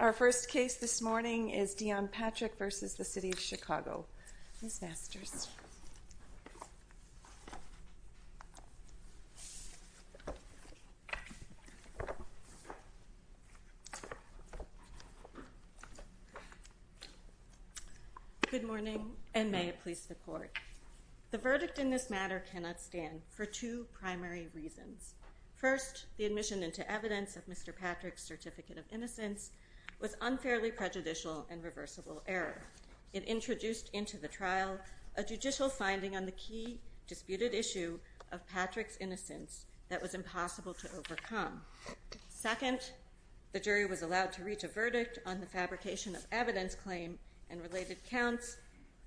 Our first case this morning is Deon Patrick v. City of Chicago, Ms. Masters. Good morning, and may it please the court. The verdict in this matter cannot stand for two primary reasons. First, the admission into evidence of Mr. Patrick's certificate of innocence was unfairly prejudicial and reversible error. It introduced into the trial a judicial finding on the key disputed issue of Patrick's innocence that was impossible to overcome. Second, the jury was allowed to reach a verdict on the fabrication of evidence claim and related counts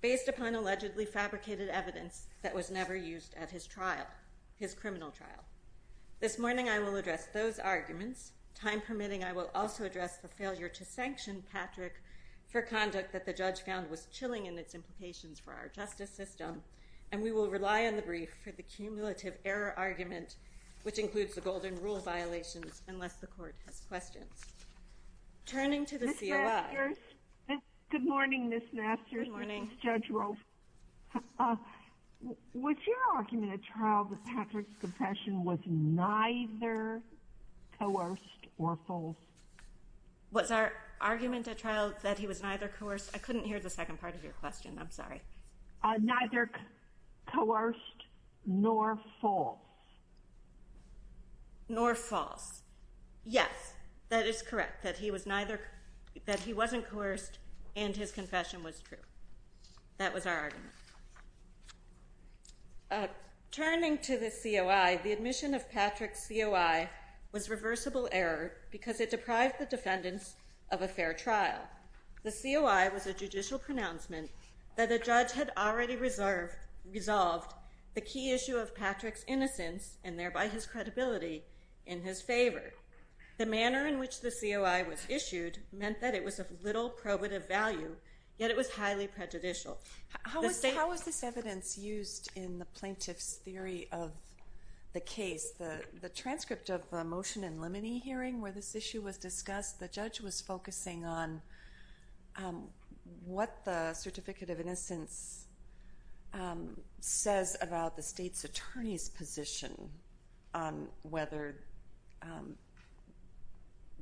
based upon allegedly fabricated evidence that was never used at his trial, his criminal trial. This morning I will address those arguments. Time permitting, I will also address the failure to sanction Patrick for conduct that the judge found was chilling in its implications for our justice system, and we will rely on the brief for the cumulative error argument, which includes the golden rule violations, unless the court has questions. Turning to the COI. Good morning, Ms. Masters. Good morning. Judge Rolf. Was your argument at trial that Patrick's confession was neither coerced or false? Was our argument at trial that he was neither coerced? I couldn't hear the second part of your question. I'm Nor false. Yes, that is correct, that he wasn't coerced and his confession was true. That was our argument. Turning to the COI, the admission of Patrick's COI was reversible error because it deprived the defendants of a fair trial. The COI was a judicial pronouncement that a judge had already resolved the key issue of Patrick's innocence, and thereby his credibility, in his favor. The manner in which the COI was issued meant that it was of little probative value, yet it was highly prejudicial. How was this evidence used in the plaintiff's theory of the case? The transcript of the Motion in Limine hearing where this issue was discussed, the judge was focusing on what the Certificate of Innocence says about the state's attorney's position on whether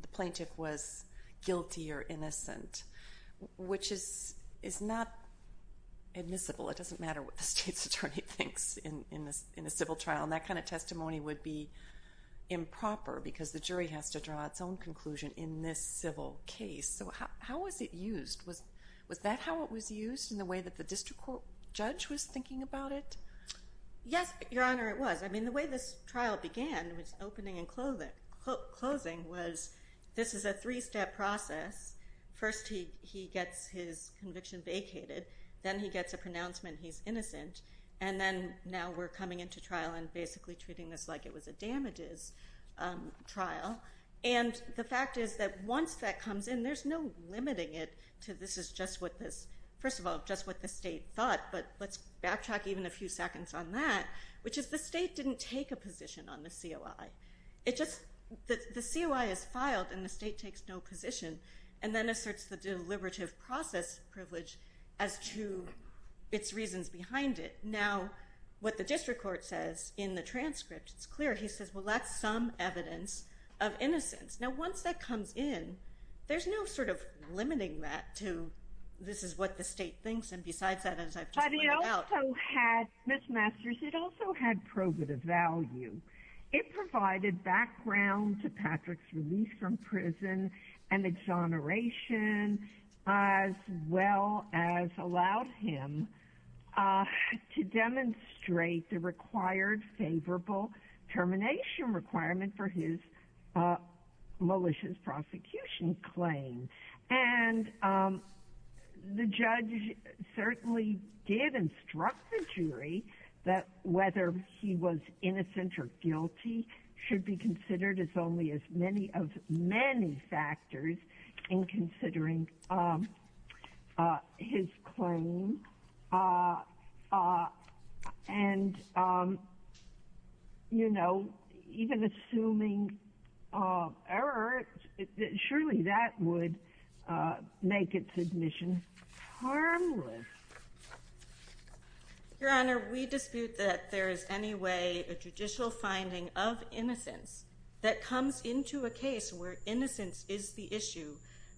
the plaintiff was guilty or innocent, which is not admissible. It doesn't matter what the state's attorney thinks in a civil trial. That kind of testimony would be improper because the jury has to draw its own conclusion in this civil case. How was it used? Was that how it was used in the way that the district court judge was thinking about it? Yes, Your Honor, it was. The way this trial began, its opening and closing, was this is a three-step process. First, he gets his conviction vacated, then he gets a pronouncement he's innocent, and then now we're coming into trial and basically treating this like it was a damages trial. The fact is that once that comes in, there's no limiting it to this is just what this, first of all, just what the state thought, but let's backtrack even a few seconds on that, which is the state didn't take a position on the COI. The COI is filed and the state takes no position, and then asserts the deliberative process privilege as to its reasons behind it. Now, what the district court says in the transcript, it's clear. He says, well, that's some evidence of innocence. Now, once that comes in, there's no sort of limiting that to this is what the state thinks, and besides that, as I've just pointed out. But it also had, Ms. Masters, it also had probative value. It provided background to Patrick's release from prison and exoneration, as well as allowed him to demonstrate the required favorable termination requirement for his malicious prosecution claim. And the judge certainly did instruct the jury that whether he was guilty should be considered as only as many of many factors in considering his claim. And, you know, even assuming error, surely that would make its admission harmless. Your Honor, we dispute that there is any way a judicial finding of innocence that comes into a case where innocence is the issue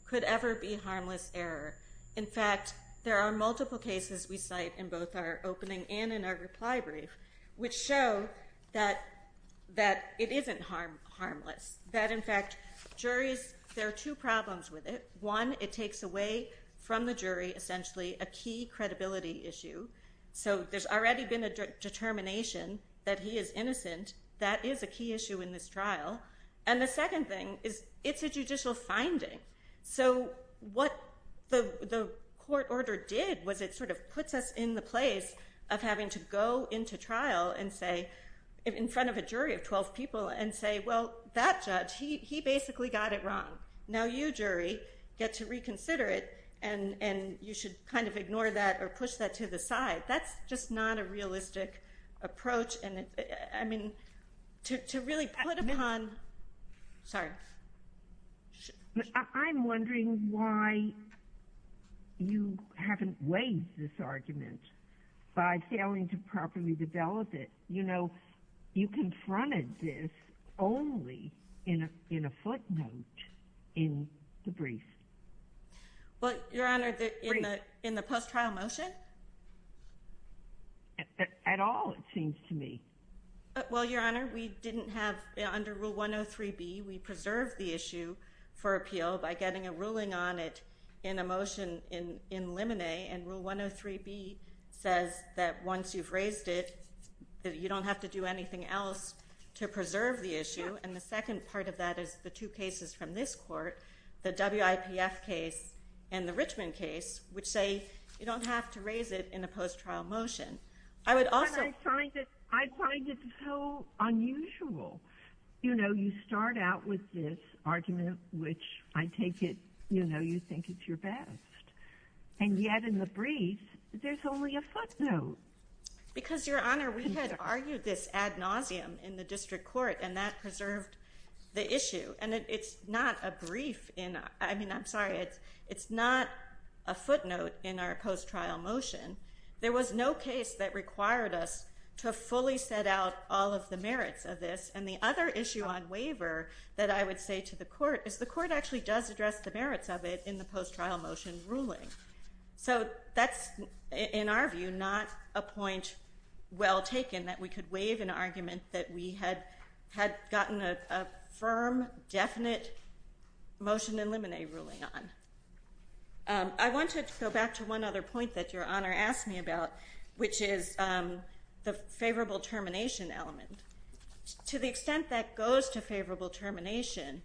could ever be harmless error. In fact, there are multiple cases we cite in both our opening and in our reply brief, which show that it isn't harmless. That, in fact, there are two problems with it. One, it takes away from the jury essentially a key credibility issue. So there's already been a determination that he is innocent. That is a key issue in this trial. And the second thing is it's a judicial finding. So what the court order did was it sort of puts us in the place of having to go into trial and say, in front of a jury of 12 people, and say, well, that judge, he kind of ignored that or pushed that to the side. That's just not a realistic approach. And, I mean, to really put upon... Sorry. I'm wondering why you haven't weighed this argument by failing to properly develop it. You know, you confronted this only in a footnote in the brief. Well, Your Honor, in the post-trial motion? At all, it seems to me. Well, Your Honor, we didn't have... Under Rule 103B, we preserved the issue for appeal by getting a ruling on it in a motion in limine. And Rule 103B says that once you've raised it, you don't have to do anything else to preserve the issue. And the second part of that is the two cases from this court, the WIPF case and the Richmond case, which say you don't have to raise it in a post-trial motion. I would also... But I find it so unusual. You know, you start out with this argument, which I take it, you know, you think it's your best. And yet, in the brief, there's only a footnote. Because, Your Honor, we had argued this ad nauseum in the district court, and that preserved the issue. And it's not a brief in... I mean, I'm sorry, it's not a footnote in our post-trial motion. There was no case that required us to fully set out all of the merits of this. And the other issue on waiver that I would say to the court is the court actually does address the merits of it in the post-trial motion ruling. So that's, in our view, not a point well taken that we could waive an argument that we had gotten a firm, definite motion in limine ruling on. I wanted to go back to one other point that Your Honor asked me about, which is the favorable termination element. To the extent that goes to favorable termination,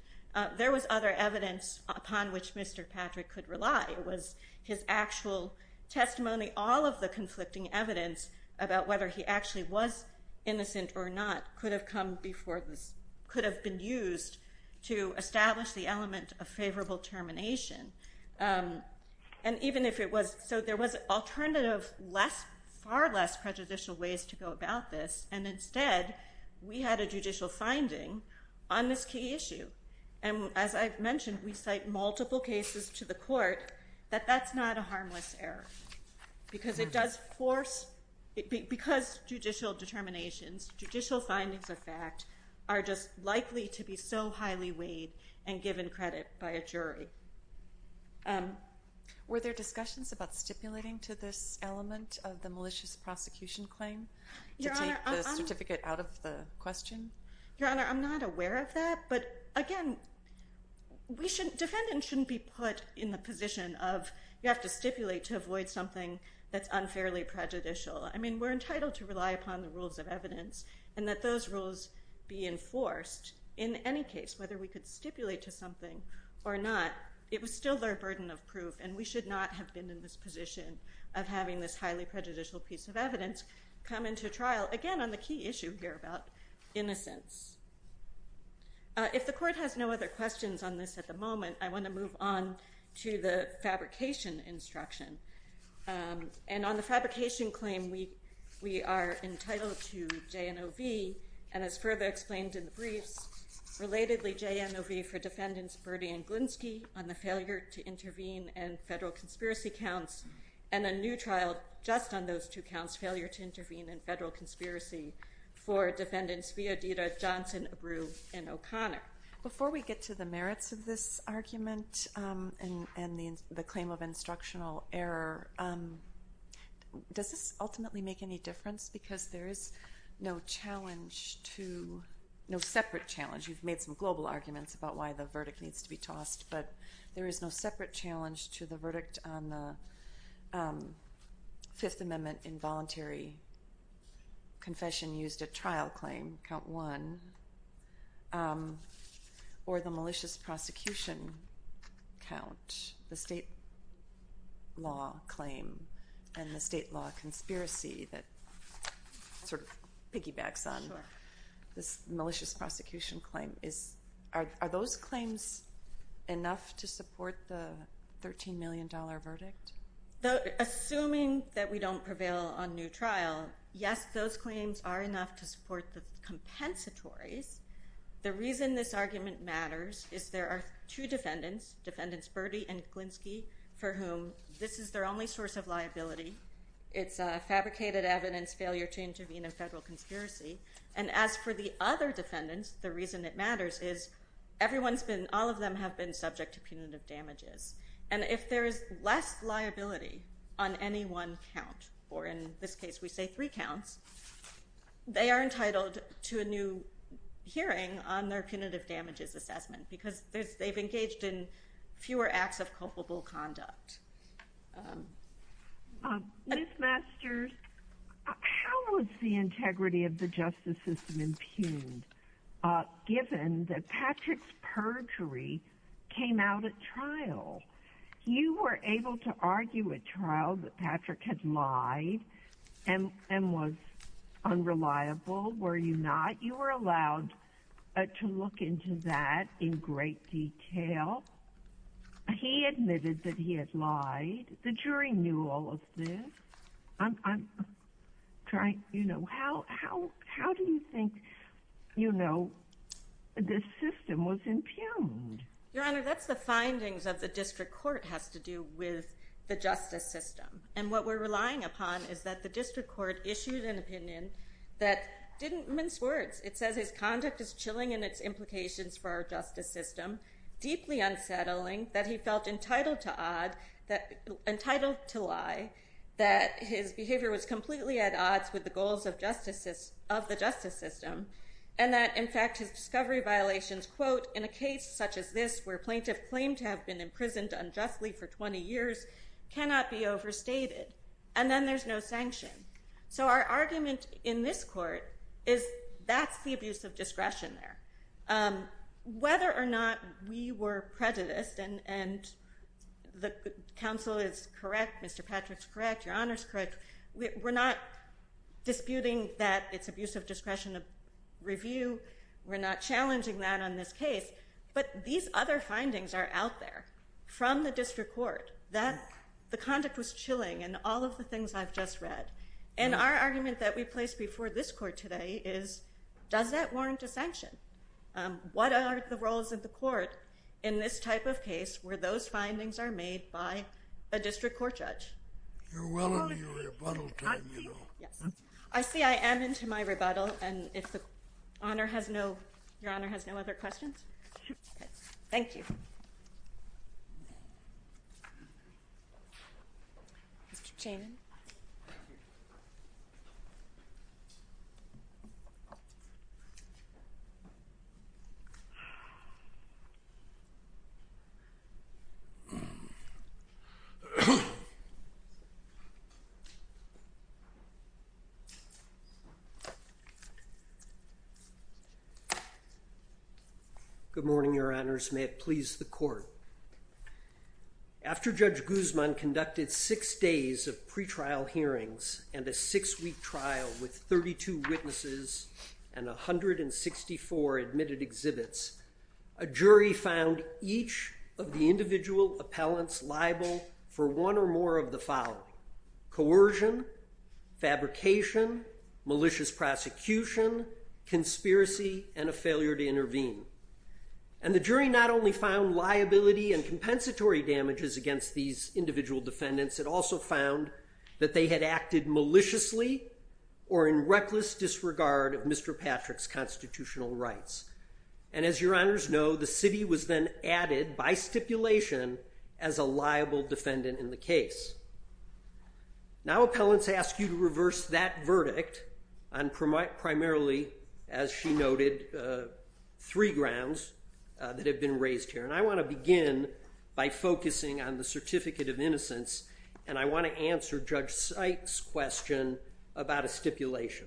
there was other evidence upon which Mr. Patrick could rely. It was his actual testimony. All of the conflicting evidence about whether he actually was innocent or not could have come before this, could have been used to establish the element of favorable termination. And even if it was... So there was alternative, far less prejudicial ways to go about this. And instead, we had a judicial finding on this key issue. And as I've mentioned, we cite multiple cases to the court that that's not a harmless error. Because it does force... Because judicial determinations, judicial findings of fact, are just likely to be so highly weighed and given credit by a jury. Were there discussions about stipulating to this element of the malicious prosecution claim to take the certificate out of the question? Your Honor, I'm not aware of that. But again, defendants shouldn't be put in the position of you have to stipulate to avoid something that's unfairly prejudicial. I mean, we're entitled to rely upon the rules of evidence and that those rules be enforced in any case, whether we could stipulate to something or not, it was still their burden of proof. And we should not have been in this position of having this highly prejudicial piece of evidence come into trial, again, on the key issue here about innocence. If the court has no other questions on this at the moment, I want to move on to the fabrication instruction. And on the fabrication claim, we are entitled to J&OV. And as further explained in the briefs, relatedly, J&OV for defendants Berdy and Glinski on the failure to intervene in federal conspiracy counts, and a new trial just on those two counts, failure to intervene in federal conspiracy for defendants Viaditta, Johnson, Abreu, and O'Connor. Before we get to the merits of this argument and the claim of instructional error, does this ultimately make any difference? Because there is no challenge to, no separate challenge. You've made some global arguments about why the verdict needs to be tossed, but there is no separate challenge to the verdict on the Fifth Amendment involuntary confession used at trial claim, count one, or the malicious prosecution count, the state law claim and the state law conspiracy that sort of piggybacks on this malicious prosecution claim. Are those claims enough to support the $13 million verdict? Assuming that we don't prevail on new trial, yes, those claims are enough to support the compensatories. The reason this argument matters is there are two defendants, defendants Berdy and Glinski, for whom this is their only source of liability. It's a fabricated evidence failure to intervene in federal conspiracy. And as for the other defendants, the reason it matters is everyone's been, all of them have been subject to punitive damages. And if there is less liability on any one count, or in this case we say three counts, they are entitled to a new hearing on their punitive damages assessment because they've engaged in fewer acts of culpable conduct. Ms. Masters, how was the integrity of the justice system impugned given that Patrick's perjury came out at trial? You were able to argue at trial that Patrick had lied and was unreliable, were you not? You were allowed to look into that in great detail. He admitted that he had lied. The jury knew all of this. How do you think this system was impugned? Your Honor, that's the findings of the district court has to do with the justice system. And what we're relying upon is that the district court issued an opinion that didn't mince words. It says his conduct is chilling in its implications for our justice system, deeply unsettling, that he felt entitled to lie, that his behavior was completely at odds with the goals of the justice system, and that in fact his discovery violations, quote, in a case such as this where plaintiff claimed to have been imprisoned unjustly for 20 years cannot be overstated. And then there's no sanction. So our argument in this court is that's the abuse of discretion there. Whether or not we were prejudiced, and the counsel is correct, Mr. Patrick's correct, Your Honor's correct, we're not disputing that it's abuse of discretion of review. We're not challenging that on this case. But these other findings are out there from the district court that the conduct was chilling and all of the things I've just read. And our argument that we placed before this court today is, does that warrant a sanction? What are the roles of the court in this type of case where those findings are made by a district court judge? You're well into your rebuttal time, you know. I see I am into my rebuttal, and if Your Honor has no other questions? Thank you. Good morning, Your Honors. May it please the court. After Judge Guzman conducted six days of pretrial hearings and a six-week trial with 32 witnesses and 164 admitted exhibits, a jury found each of the individual appellants liable for one or more of the following, coercion, fabrication, malicious prosecution, conspiracy, and a failure to intervene. And the jury not only found liability and compensatory damages against these individual defendants, it also found that they had acted maliciously or in reckless disregard of Mr. Patrick's constitutional rights. And as Your Honors know, the city was then added by stipulation as a liable defendant in the case. Now appellants ask you to reverse that verdict on primarily, as she noted, three grounds that have been raised here. And I want to begin by focusing on the Certificate of Innocence, and I want to answer Judge Sykes' question about a stipulation.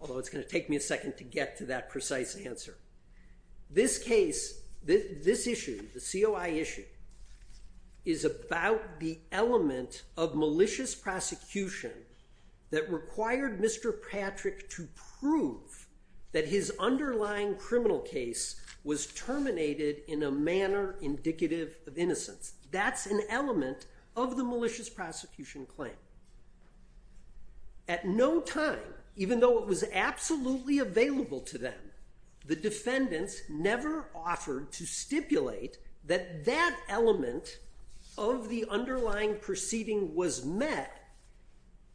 Although it's going to take me a second to get to that precise answer. This case, this issue, the COI issue, is about the element of malicious prosecution that required Mr. Patrick to prove that his underlying criminal case was terminated in a manner indicative of innocence. That's an element of the malicious prosecution claim. At no time, even though it was absolutely available to them, the defendants never offered to stipulate that that element of the underlying proceeding was met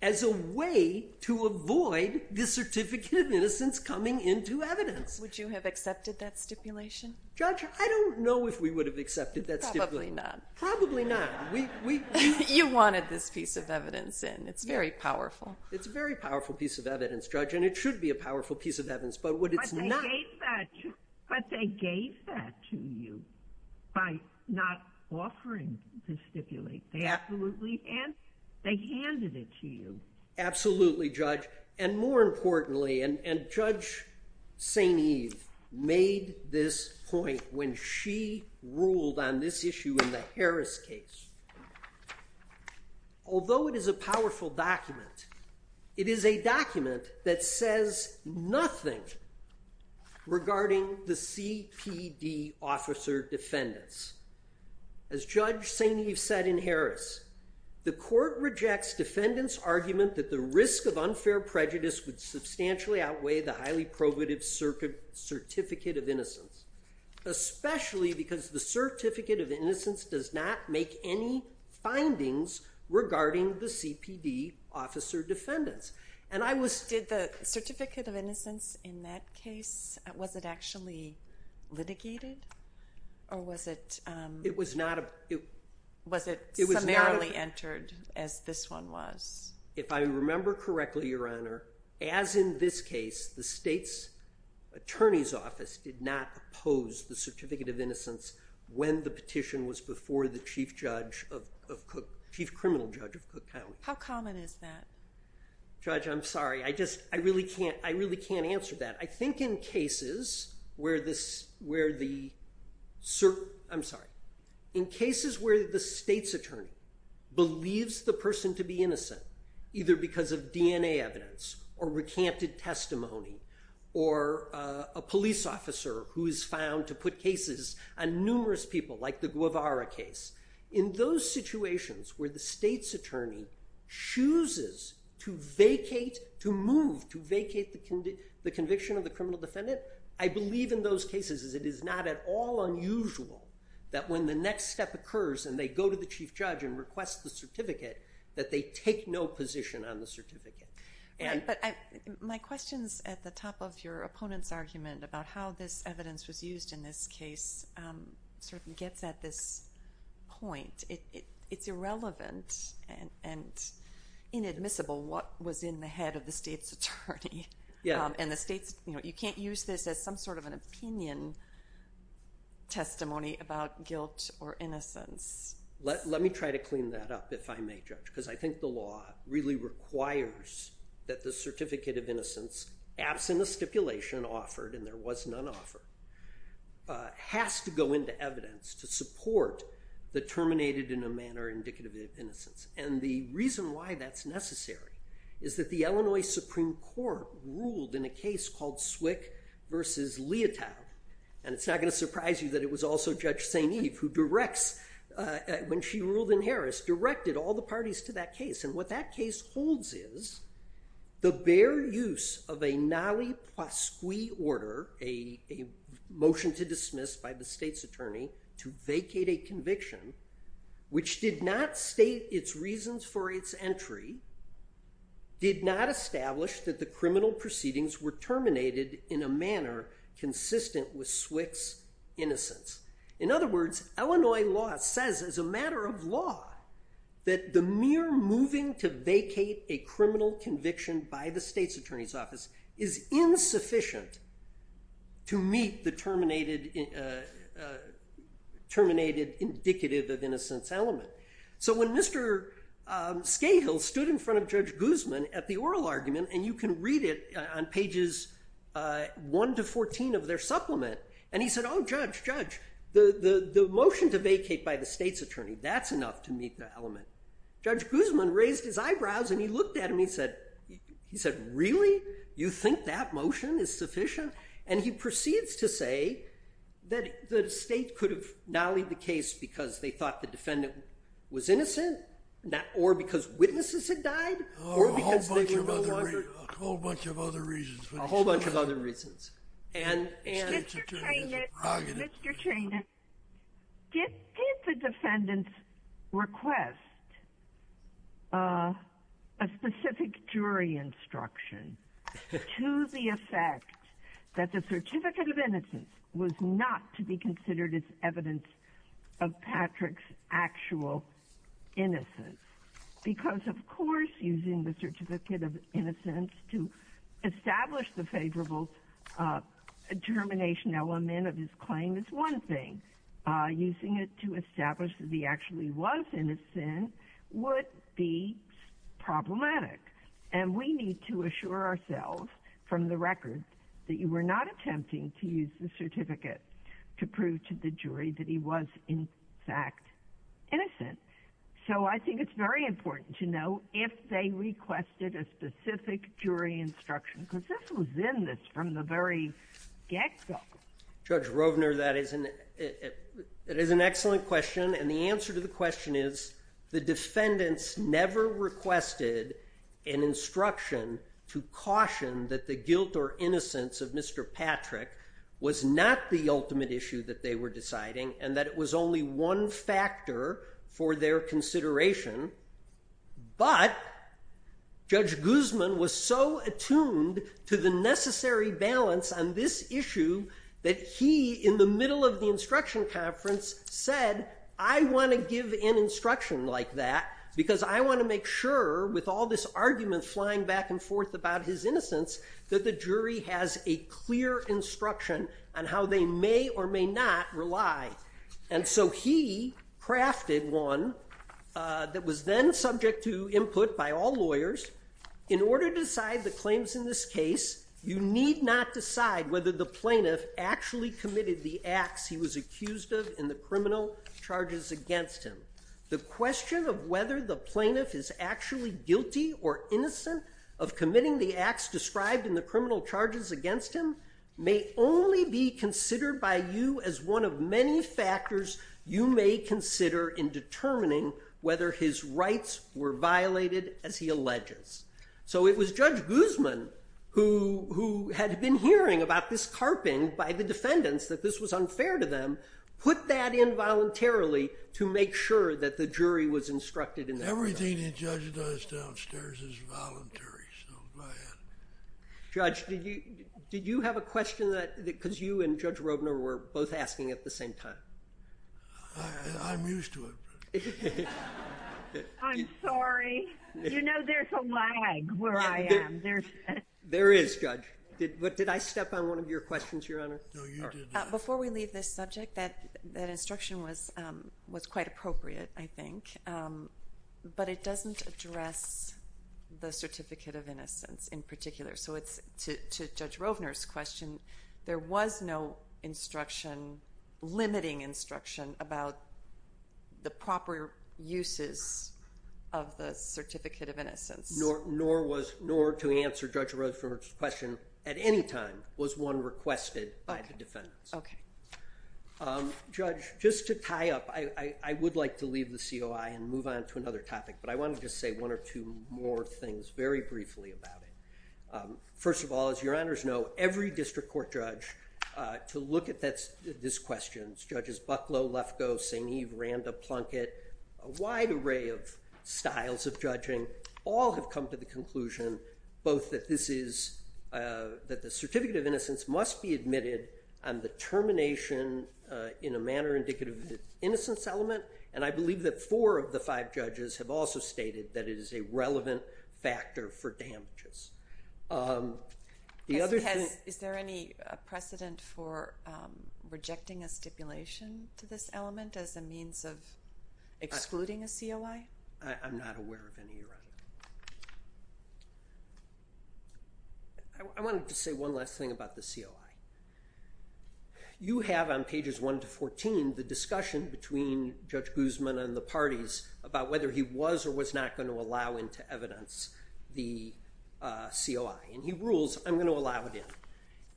as a way to avoid the Certificate of Innocence coming into evidence. Would you have accepted that stipulation? Judge, I don't know if we would have accepted that stipulation. Probably not. Probably not. You wanted this piece of evidence in. It's very powerful. It's a very powerful piece of evidence, Judge, and it should be a powerful piece of evidence, but what it's not... But they gave that to you by not offering to stipulate. Absolutely. And they handed it to you. Absolutely, Judge. And more importantly, and Judge St. Eve made this point when she ruled on this issue in the Harris case, although it is a powerful document, it is a document that says nothing regarding the CPD officer defendants. As Judge St. Eve said in Harris, the court rejects defendants' argument that the risk of unfair prejudice would substantially outweigh the highly probative Certificate of Innocence, especially because the Certificate of Innocence does not make any findings regarding the CPD officer defendants. Did the Certificate of Innocence in that case, was it actually litigated or was it... It was not... Was it summarily entered as this one was? If I remember correctly, Your Honor, as in this case, the state's attorney's office did not oppose the Certificate of Innocence when the petition was before the chief criminal judge of Cook County. How common is that? Judge, I'm sorry. I really can't answer that. I think in cases where the... I'm sorry. Either because of DNA evidence or recanted testimony or a police officer who is found to put cases on numerous people like the Guevara case. In those situations where the state's attorney chooses to vacate, to move, to vacate the conviction of the criminal defendant, I believe in those cases it is not at all unusual that when the next step occurs and they go to the chief judge and request the certificate, that they take no position on the certificate. My question's at the top of your opponent's argument about how this evidence was used in this case. It gets at this point. It's irrelevant and inadmissible what was in the head of the state's attorney. You can't use this as some sort of an opinion testimony about guilt or innocence. Let me try to clean that up if I may, Judge, because I think the law really requires that the Certificate of Innocence, absent a stipulation offered, and there was none offered, has to go into evidence to support the terminated in a manner indicative of innocence. And the reason why that's necessary is that the Illinois Supreme Court ruled in a case called Swick v. Leotow, and it's not going to surprise you that it was also Judge St. Eve who directs, when she ruled in Harris, directed all the parties to that case. And what that case holds is the bare use of a nali pasqui order, a motion to dismiss by the state's attorney, to vacate a conviction, which did not state its reasons for its entry, did not establish that the criminal proceedings were terminated in a manner consistent with Swick's innocence. In other words, Illinois law says as a matter of law that the mere moving to vacate a criminal conviction by the state's attorney's office is insufficient to meet the terminated indicative of innocence element. So when Mr. Scahill stood in front of Judge Guzman at the oral argument, and you can read it on pages 1 to 14 of their supplement, and he said, oh, Judge, Judge, the motion to vacate by the state's attorney, that's enough to meet the element. Judge Guzman raised his eyebrows and he looked at him and he said, really? You think that motion is sufficient? And he proceeds to say that the state could have nallied the case because they thought the defendant was innocent or because witnesses had died? A whole bunch of other reasons. A whole bunch of other reasons. Mr. Trainor, did the defendants request a specific jury instruction to the effect that the certificate of innocence was not to be considered as evidence of Patrick's actual innocence? Because, of course, using the certificate of innocence to establish the favorable determination element of his claim is one thing. Using it to establish that he actually was innocent would be problematic. And we need to assure ourselves from the record that you were not attempting to use the certificate to prove to the jury that he was, in fact, innocent. So I think it's very important to know if they requested a specific jury instruction because this was in this from the very get-go. Judge Rovner, that is an excellent question, and the answer to the question is the defendants never requested an instruction to caution that the guilt or innocence of Mr. Patrick was not the ultimate issue that they were deciding and that it was only one factor for their consideration. But Judge Guzman was so attuned to the necessary balance on this issue that he, in the middle of the instruction conference, said, I want to give an instruction like that because I want to make sure, with all this argument flying back and forth about his innocence, that the jury has a clear instruction on how they may or may not rely. And so he crafted one that was then subject to input by all lawyers. In order to decide the claims in this case, you need not decide whether the plaintiff actually committed the acts he was accused of in the criminal charges against him. The question of whether the plaintiff is actually guilty or innocent of committing the acts described in the criminal charges against him may only be considered by you as one of many factors you may consider in determining whether his rights were violated, as he alleges. So it was Judge Guzman who had been hearing about this carping by the defendants, that this was unfair to them, put that in voluntarily to make sure that the jury was instructed in that regard. Everything the judge does downstairs is voluntary, so go ahead. Judge, did you have a question that, because you and Judge Robner were both asking at the same time. I'm used to it. I'm sorry. You know there's a lag where I am. There is, Judge. Did I step on one of your questions, Your Honor? No, you didn't. Before we leave this subject, that instruction was quite appropriate, I think. But it doesn't address the certificate of innocence in particular. So to Judge Robner's question, there was no instruction, limiting instruction, about the proper uses of the certificate of innocence. Nor was, nor to answer Judge Robner's question at any time was one requested by the defendants. Okay. Judge, just to tie up, I would like to leave the COI and move on to another topic, but I wanted to say one or two more things very briefly about it. First of all, as Your Honors know, every district court judge, to look at this question, Judges Bucklow, Lefkoe, St. Eve, Randa, Plunkett, a wide array of styles of judging, all have come to the conclusion, both that this is, that the certificate of innocence must be admitted on the termination in a manner indicative of the innocence element, and I believe that four of the five judges have also stated that it is a relevant factor for damages. Is there any precedent for rejecting a stipulation to this element as a means of excluding a COI? I'm not aware of any Your Honor. I wanted to say one last thing about the COI. You have on pages 1 to 14 the discussion between Judge Guzman and the parties about whether he was or was not going to allow into evidence the COI. And he rules, I'm going to allow it in.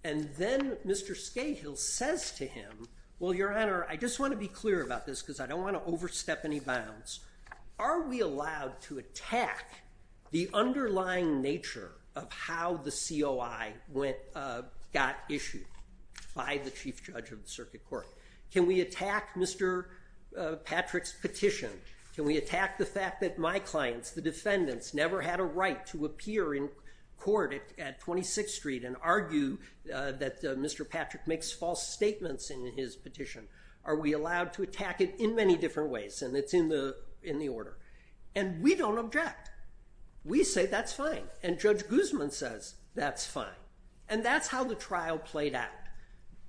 And then Mr. Scahill says to him, well Your Honor, I just want to be clear about this because I don't want to overstep any bounds. Are we allowed to attack the underlying nature of how the COI got issued by the Chief Judge of the Circuit Court? Can we attack Mr. Patrick's petition? Can we attack the fact that my clients, the defendants, never had a right to appear in court at 26th Street and argue that Mr. Patrick makes false statements in his petition? Are we allowed to attack it in many different ways? And it's in the order. And we don't object. We say that's fine. And Judge Guzman says that's fine. And that's how the trial played out.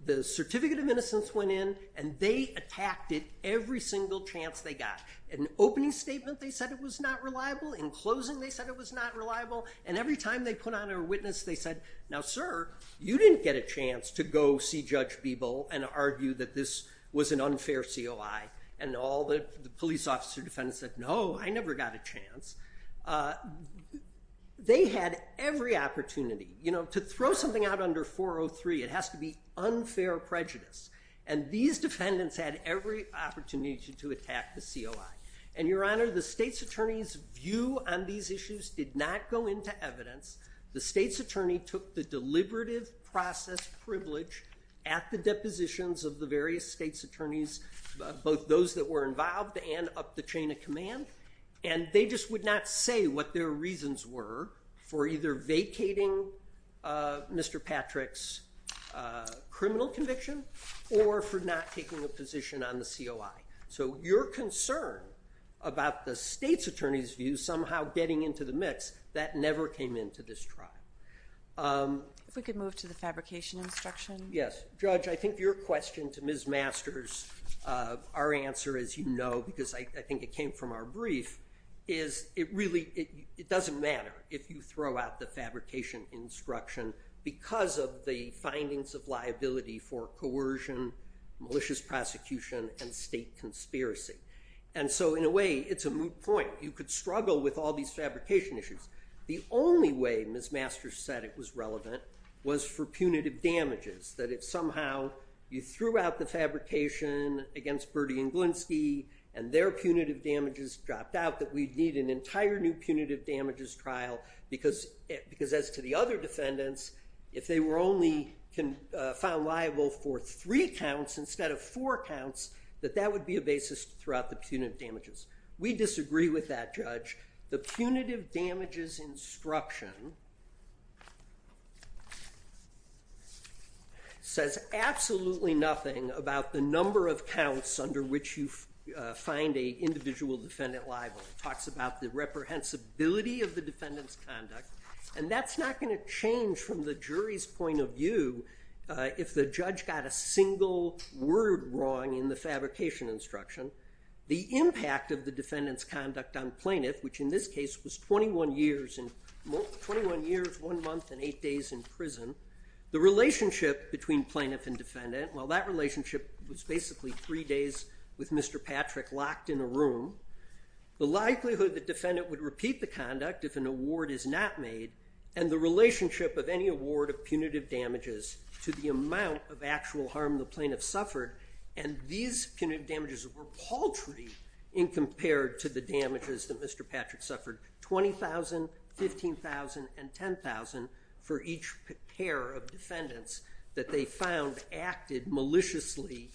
The Certificate of Innocence went in and they attacked it every single chance they got. In an opening statement they said it was not reliable. In closing they said it was not reliable. And every time they put on a witness they said, now sir, you didn't get a chance to go see Judge Beeble and argue that this was an unfair COI. And all the police officer defendants said, no, I never got a chance. They had every opportunity. To throw something out under 403, it has to be unfair prejudice. And these defendants had every opportunity to attack the COI. And Your Honor, the State's Attorney's view on these issues did not go into evidence. The State's Attorney took the deliberative process privilege at the depositions of the various State's Attorneys, both those that were involved and up the chain of command, and they just would not say what their reasons were for either vacating Mr. Patrick's criminal conviction or for not taking a position on the COI. So your concern about the State's Attorney's view somehow getting into the mix, that never came into this trial. If we could move to the fabrication instruction. Yes. Judge, I think your question to Ms. Masters, our answer as you know, because I think it came from our brief, is it really doesn't matter if you throw out the fabrication instruction because of the findings of liability for coercion, malicious prosecution, and State conspiracy. And so in a way it's a moot point. You could struggle with all these fabrication issues. The only way Ms. Masters said it was relevant was for punitive damages, that if somehow you threw out the fabrication against Bertie and Glinski and their punitive damages dropped out, that we'd need an entire new punitive damages trial because as to the other defendants, if they were only found liable for three counts instead of four counts, that that would be a basis to throw out the punitive damages. We disagree with that, Judge. The punitive damages instruction says absolutely nothing about the number of counts under which you find an individual defendant liable. It talks about the reprehensibility of the defendant's conduct, and that's not going to change from the jury's point of view if the judge got a single word wrong in the fabrication instruction. The impact of the defendant's conduct on the plaintiff, which in this case was 21 years, one month, and eight days in prison. The relationship between plaintiff and defendant, well that relationship was basically three days with Mr. Patrick locked in a room. The likelihood the defendant would repeat the conduct if an award is not made, and the relationship of any award of punitive damages to the amount of actual harm the plaintiff suffered, and these punitive damages were paltry in compared to the damages that Mr. Patrick suffered, 20,000, 15,000, and 10,000 for each pair of defendants that they found acted maliciously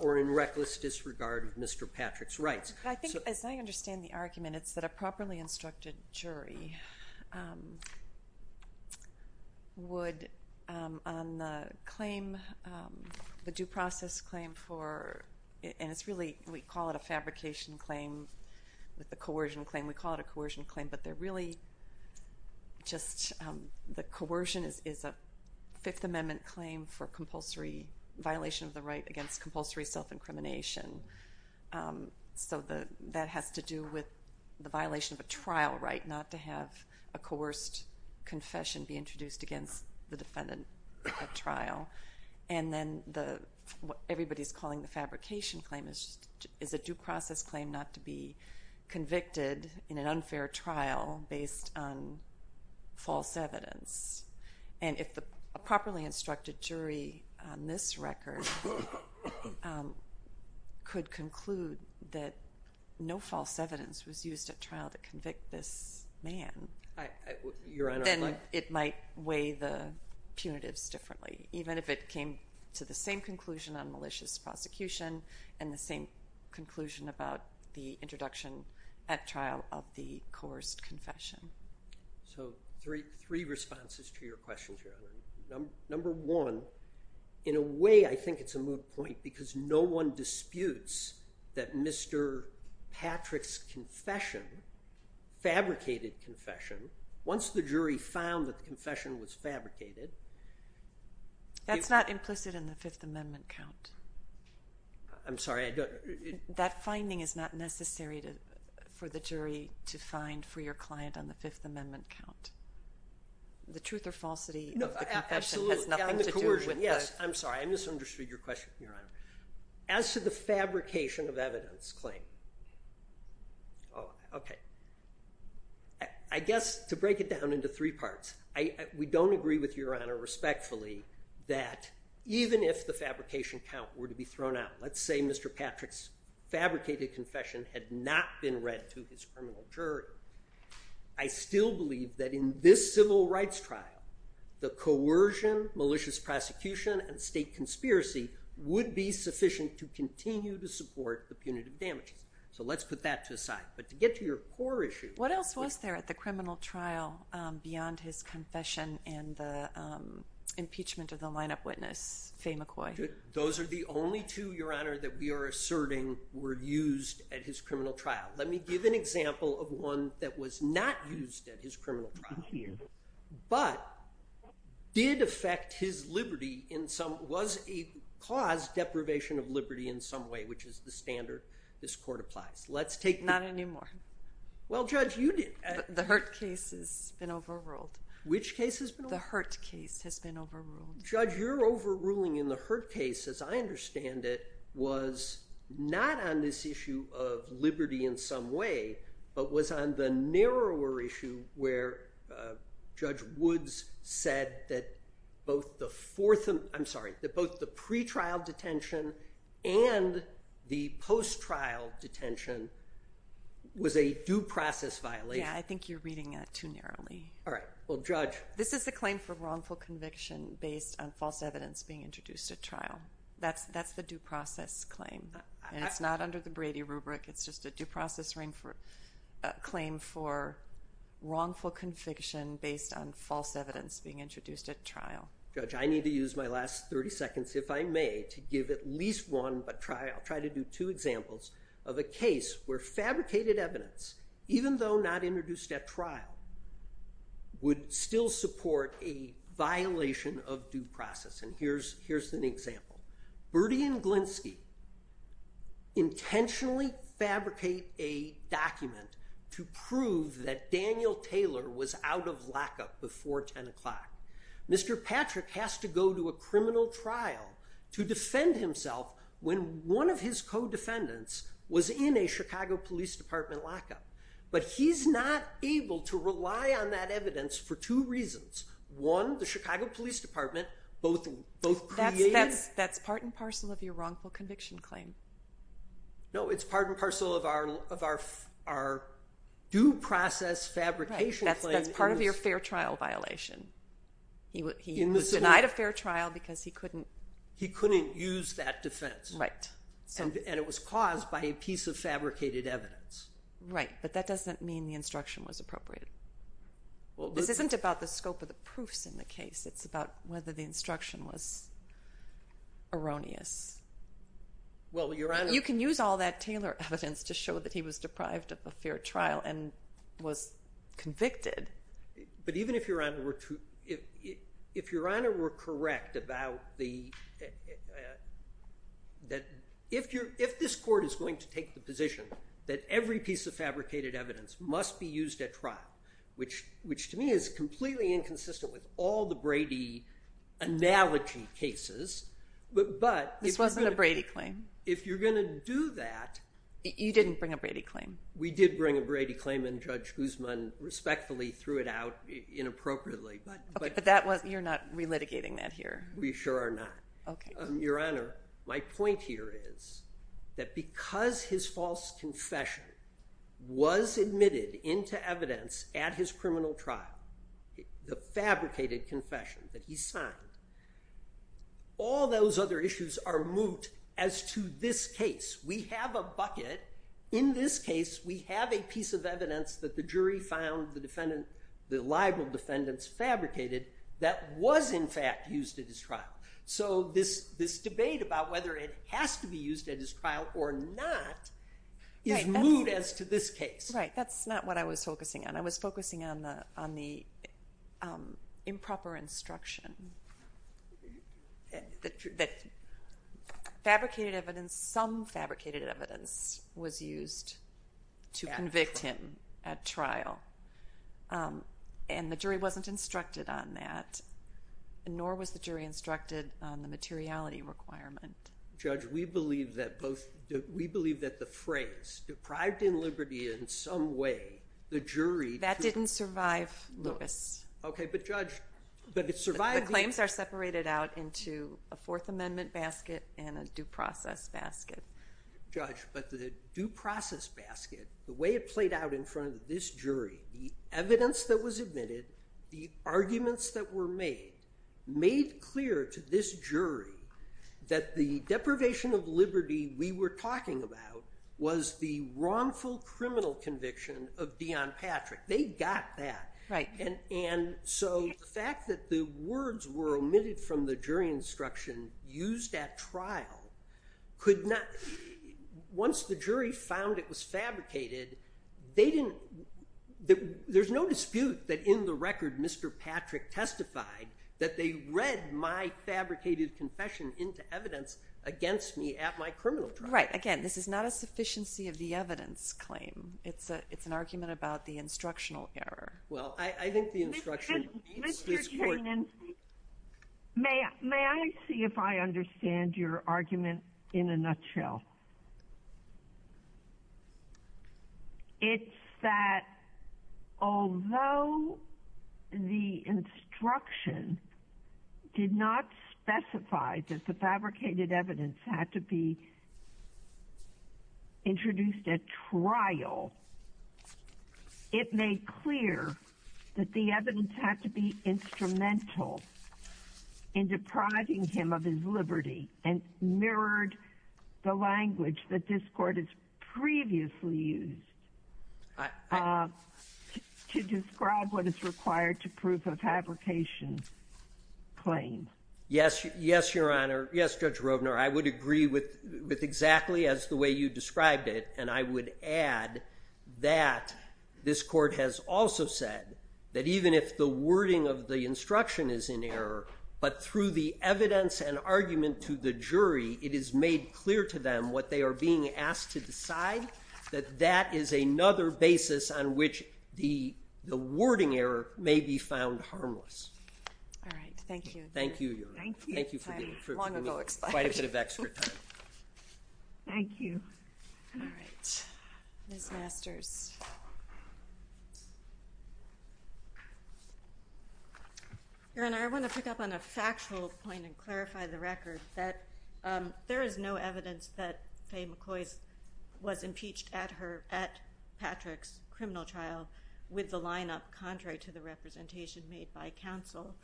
or in reckless disregard of Mr. Patrick's rights. I think, as I understand the argument, it's that a properly instructed jury would on the claim, the due process claim for, and it's really, we call it a fabrication claim, with the coercion claim, we call it a coercion claim, but they're really just, the coercion is a Fifth Amendment claim for compulsory violation of the right against compulsory self-incrimination. So that has to do with the violation of a trial right not to have a coerced confession be introduced against the defendant at trial. And then what everybody's calling the fabrication claim is a due process claim not to be convicted in an unfair trial based on false evidence. And if a properly instructed jury on this record could conclude that no false evidence was used at trial to convict this man, then it might weigh the punitives differently, even if it came to the same conclusion on malicious prosecution and the same conclusion about the introduction at trial of the coerced confession. So three responses to your question, Your Honor. Number one, in a way I think it's a moot point because no one disputes that Mr. Patrick's confession, fabricated confession, once the jury found that the confession was fabricated... That's not implicit in the Fifth Amendment count. I'm sorry, I don't... That finding is not necessary for the jury to find for your client on the Fifth Amendment count. The truth or falsity of the confession has nothing to do with the... As to the fabrication of evidence claim... Oh, okay. I guess to break it down into three parts, we don't agree with Your Honor respectfully that even if the fabrication count were to be thrown out, let's say Mr. Patrick's fabricated confession had not been read to his criminal jury, I still believe that in this civil rights trial, the coercion, malicious prosecution, and state conspiracy would be sufficient to continue to support the punitive damages. So let's put that to the side. But to get to your core issue... What else was there at the criminal trial beyond his confession and the impeachment of the line-up witness, Fay McCoy? Those are the only two, Your Honor, that we are asserting were used at his criminal trial. Let me give an example of one that was not used at his criminal trial. But did affect his liberty in some... Was a cause deprivation of liberty in some way, which is the standard this court applies. Let's take... Not anymore. Well, Judge, you did. The Hurt case has been overruled. Which case has been overruled? The Hurt case has been overruled. Judge, your overruling in the Hurt case, as I understand it, was not on this issue of liberty in some way, but was on the narrower issue where Judge Woods said that both the pre-trial detention and the post-trial detention was a due process violation. Yeah, I think you're reading that too narrowly. All right. Well, Judge... This is a claim for wrongful conviction based on false evidence being introduced at trial. That's the due process claim. And it's not under the Brady rubric. It's just a due process claim for wrongful conviction based on false evidence being introduced at trial. Judge, I need to use my last 30 seconds, if I may, to give at least one trial. I'll try to do two examples of a case where fabricated evidence, even though not introduced at trial, would still support a violation of due process. And here's an example. Bertie and Glinsky intentionally fabricate a document to prove that Daniel Taylor was out of lockup before 10 o'clock. Mr. Patrick has to go to a criminal trial to defend himself when one of his co-defendants was in a Chicago Police Department lockup. But he's not able to rely on that evidence for two reasons. One, the Chicago Police Department both created... That's part and parcel of your wrongful conviction claim. No, it's part and parcel of our due process fabrication claim. That's part of your fair trial violation. He was denied a fair trial because he couldn't... He couldn't use that defense. Right. And it was caused by a piece of fabricated evidence. Right, but that doesn't mean the instruction was appropriate. This isn't about the scope of the proofs in the case. It's about whether the instruction was erroneous. Well, Your Honor... You can use all that Taylor evidence to show that he was deprived of a fair trial and was convicted. But even if Your Honor were to... If Your Honor were correct about the... If this court is going to take the position that every piece of fabricated evidence must be used at trial, which to me is completely inconsistent with all the Brady analogy cases, but... This wasn't a Brady claim. If you're going to do that... You didn't bring a Brady claim. We did bring a Brady claim, and Judge Guzman respectfully threw it out inappropriately. Okay, but you're not relitigating that here. We sure are not. Okay. Your Honor, my point here is that because his false confession was admitted into evidence at his criminal trial, the fabricated confession that he signed, all those other issues are moot as to this case. We have a bucket. In this case, we have a piece of evidence that the jury found the libel defendants fabricated that was in fact used at his trial. So this debate about whether it has to be used at his trial or not is moot as to this case. Right, that's not what I was focusing on. I was focusing on the improper instruction that fabricated evidence, some fabricated evidence, was used to convict him at trial, and the jury wasn't instructed on that, nor was the jury instructed on the materiality requirement. Judge, we believe that the phrase, deprived in liberty in some way, the jury... That didn't survive Lewis. Okay, but Judge... The claims are separated out into a Fourth Amendment basket and a due process basket. Judge, but the due process basket, the way it played out in front of this jury, the evidence that was admitted, the arguments that were made, made clear to this jury that the deprivation of liberty we were talking about was the wrongful criminal conviction of Deion Patrick. They got that. Right. And so the fact that the words were omitted from the jury instruction used at trial could not... Once the jury found it was fabricated, they didn't... There's no dispute that in the record Mr. Patrick testified that they read my fabricated confession into evidence against me at my criminal trial. Right. Again, this is not a sufficiency of the evidence claim. It's an argument about the instructional error. Well, I think the instructional... Mr. Chenin, may I see if I understand your argument in a nutshell? It's that although the instruction did not specify that the fabricated evidence had to be introduced at trial, it made clear that the evidence had to be instrumental and mirrored the language that this court has previously used to describe what is required to prove a fabrication claim. Yes, Your Honor. Yes, Judge Roebner. I would agree with exactly as the way you described it, and I would add that this court has also said that even if the wording of the instruction is in error, but through the evidence and argument to the jury, it is made clear to them what they are being asked to decide, that that is another basis on which the wording error may be found harmless. All right. Thank you. Thank you, Your Honor. Thank you. Thank you for giving me quite a bit of extra time. Thank you. All right. Ms. Masters. Your Honor, I want to pick up on a factual point and clarify the record that there is no evidence that Faye McCoy was impeached at Patrick's criminal trial with the lineup contrary to the representation made by counsel.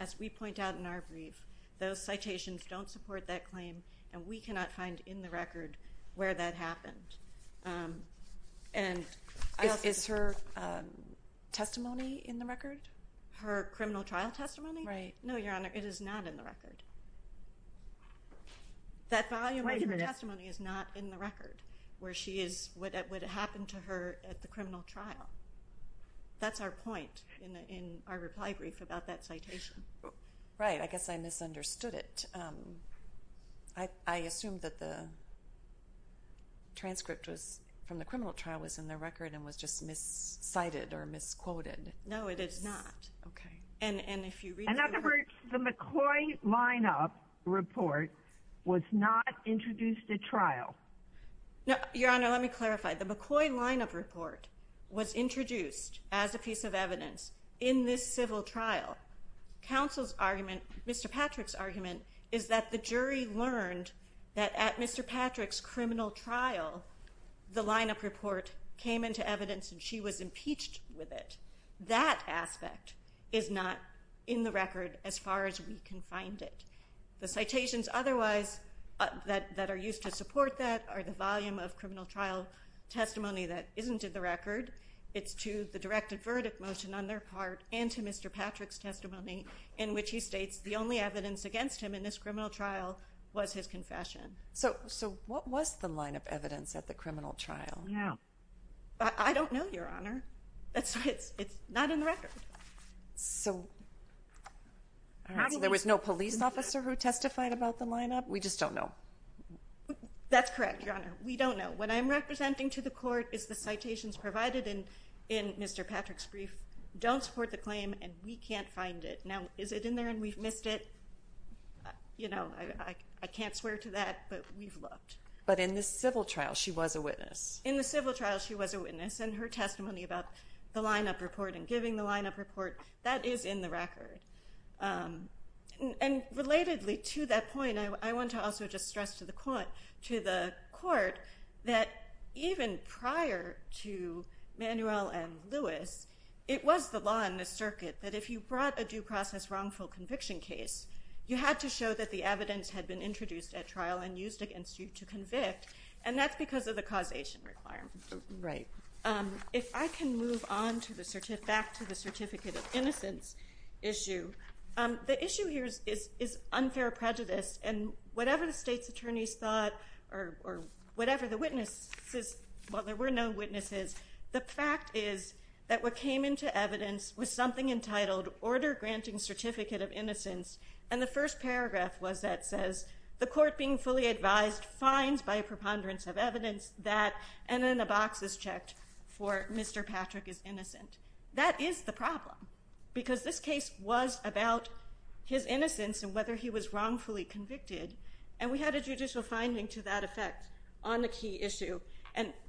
As we point out in our brief, those citations don't support that claim, and we cannot find in the record where that happened. Is her testimony in the record? Her criminal trial testimony? Right. No, Your Honor, it is not in the record. That volume of her testimony is not in the record where it happened to her at the criminal trial. That's our point in our reply brief about that citation. Right. I guess I misunderstood it. I assumed that the transcript from the criminal trial was in the record and was just miscited or misquoted. No, it is not. Okay. In other words, the McCoy lineup report was not introduced at trial. No, Your Honor, let me clarify. The McCoy lineup report was introduced as a piece of evidence in this civil trial. Counsel's argument, Mr. Patrick's argument, is that the jury learned that at Mr. Patrick's criminal trial, the lineup report came into evidence and she was impeached with it. That aspect is not in the record as far as we can find it. The citations otherwise that are used to support that are the volume of criminal trial testimony that isn't in the record. It's to the directed verdict motion on their part and to Mr. Patrick's testimony in which he states the only evidence against him in this criminal trial was his confession. So what was the lineup evidence at the criminal trial? I don't know, Your Honor. It's not in the record. So there was no police officer who testified about the lineup? We just don't know. That's correct, Your Honor. We don't know. What I'm representing to the court is the citations provided in Mr. Patrick's brief don't support the claim and we can't find it. Now, is it in there and we've missed it? I can't swear to that, but we've looked. But in the civil trial, she was a witness. In the civil trial, she was a witness and her testimony about the lineup report and giving the lineup report, that is in the record. And relatedly to that point, I want to also just stress to the court that even prior to Manuel and Lewis, it was the law in this circuit that if you brought a due process wrongful conviction case, you had to show that the evidence had been introduced at trial and used against you to convict and that's because of the causation requirement. Right. If I can move back to the certificate of innocence issue, the issue here is unfair prejudice and whatever the state's attorneys thought or whatever the witnesses... Well, there were no witnesses. The fact is that what came into evidence was something entitled Order Granting Certificate of Innocence and the first paragraph was that says the court being fully advised finds by a preponderance of evidence that... and then the box is checked for Mr. Patrick is innocent. That is the problem because this case was about his innocence and whether he was wrongfully convicted and we had a judicial finding to that effect on the key issue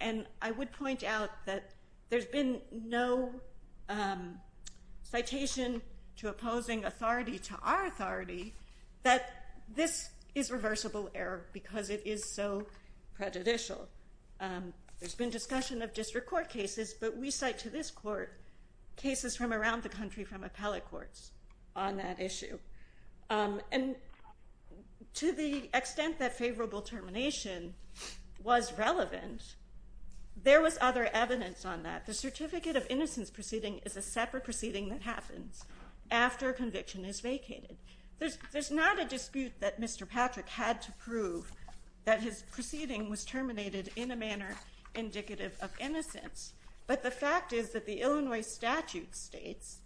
and I would point out that there's been no citation to opposing authority to our authority that this is reversible error because it is so prejudicial. There's been discussion of district court cases but we cite to this court cases from around the country from appellate courts on that issue and to the extent that favorable termination was relevant, there was other evidence on that. The certificate of innocence proceeding is a separate proceeding that happens after conviction is vacated. There's not a dispute that Mr. Patrick had to prove that his proceeding was terminated in a manner indicative of innocence but the fact is that the Illinois statute states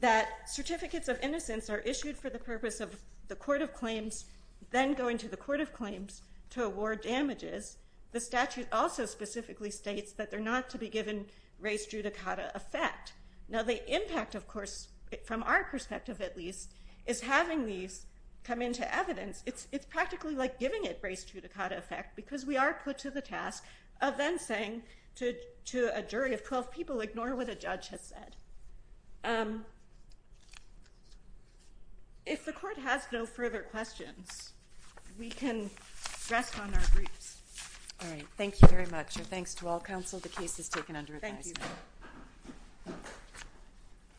that certificates of innocence are issued for the purpose of the court of claims then going to the court of claims to award damages. The statute also specifically states that they're not to be given res judicata effect. Now the impact, of course, from our perspective at least, is having these come into evidence. It's practically like giving it res judicata effect because we are put to the task of then saying to a jury of 12 people, ignore what the judge has said. If the court has no further questions, we can rest on our groups. All right, thank you very much and thanks to all counsel. The case is taken under advisement. Thank you.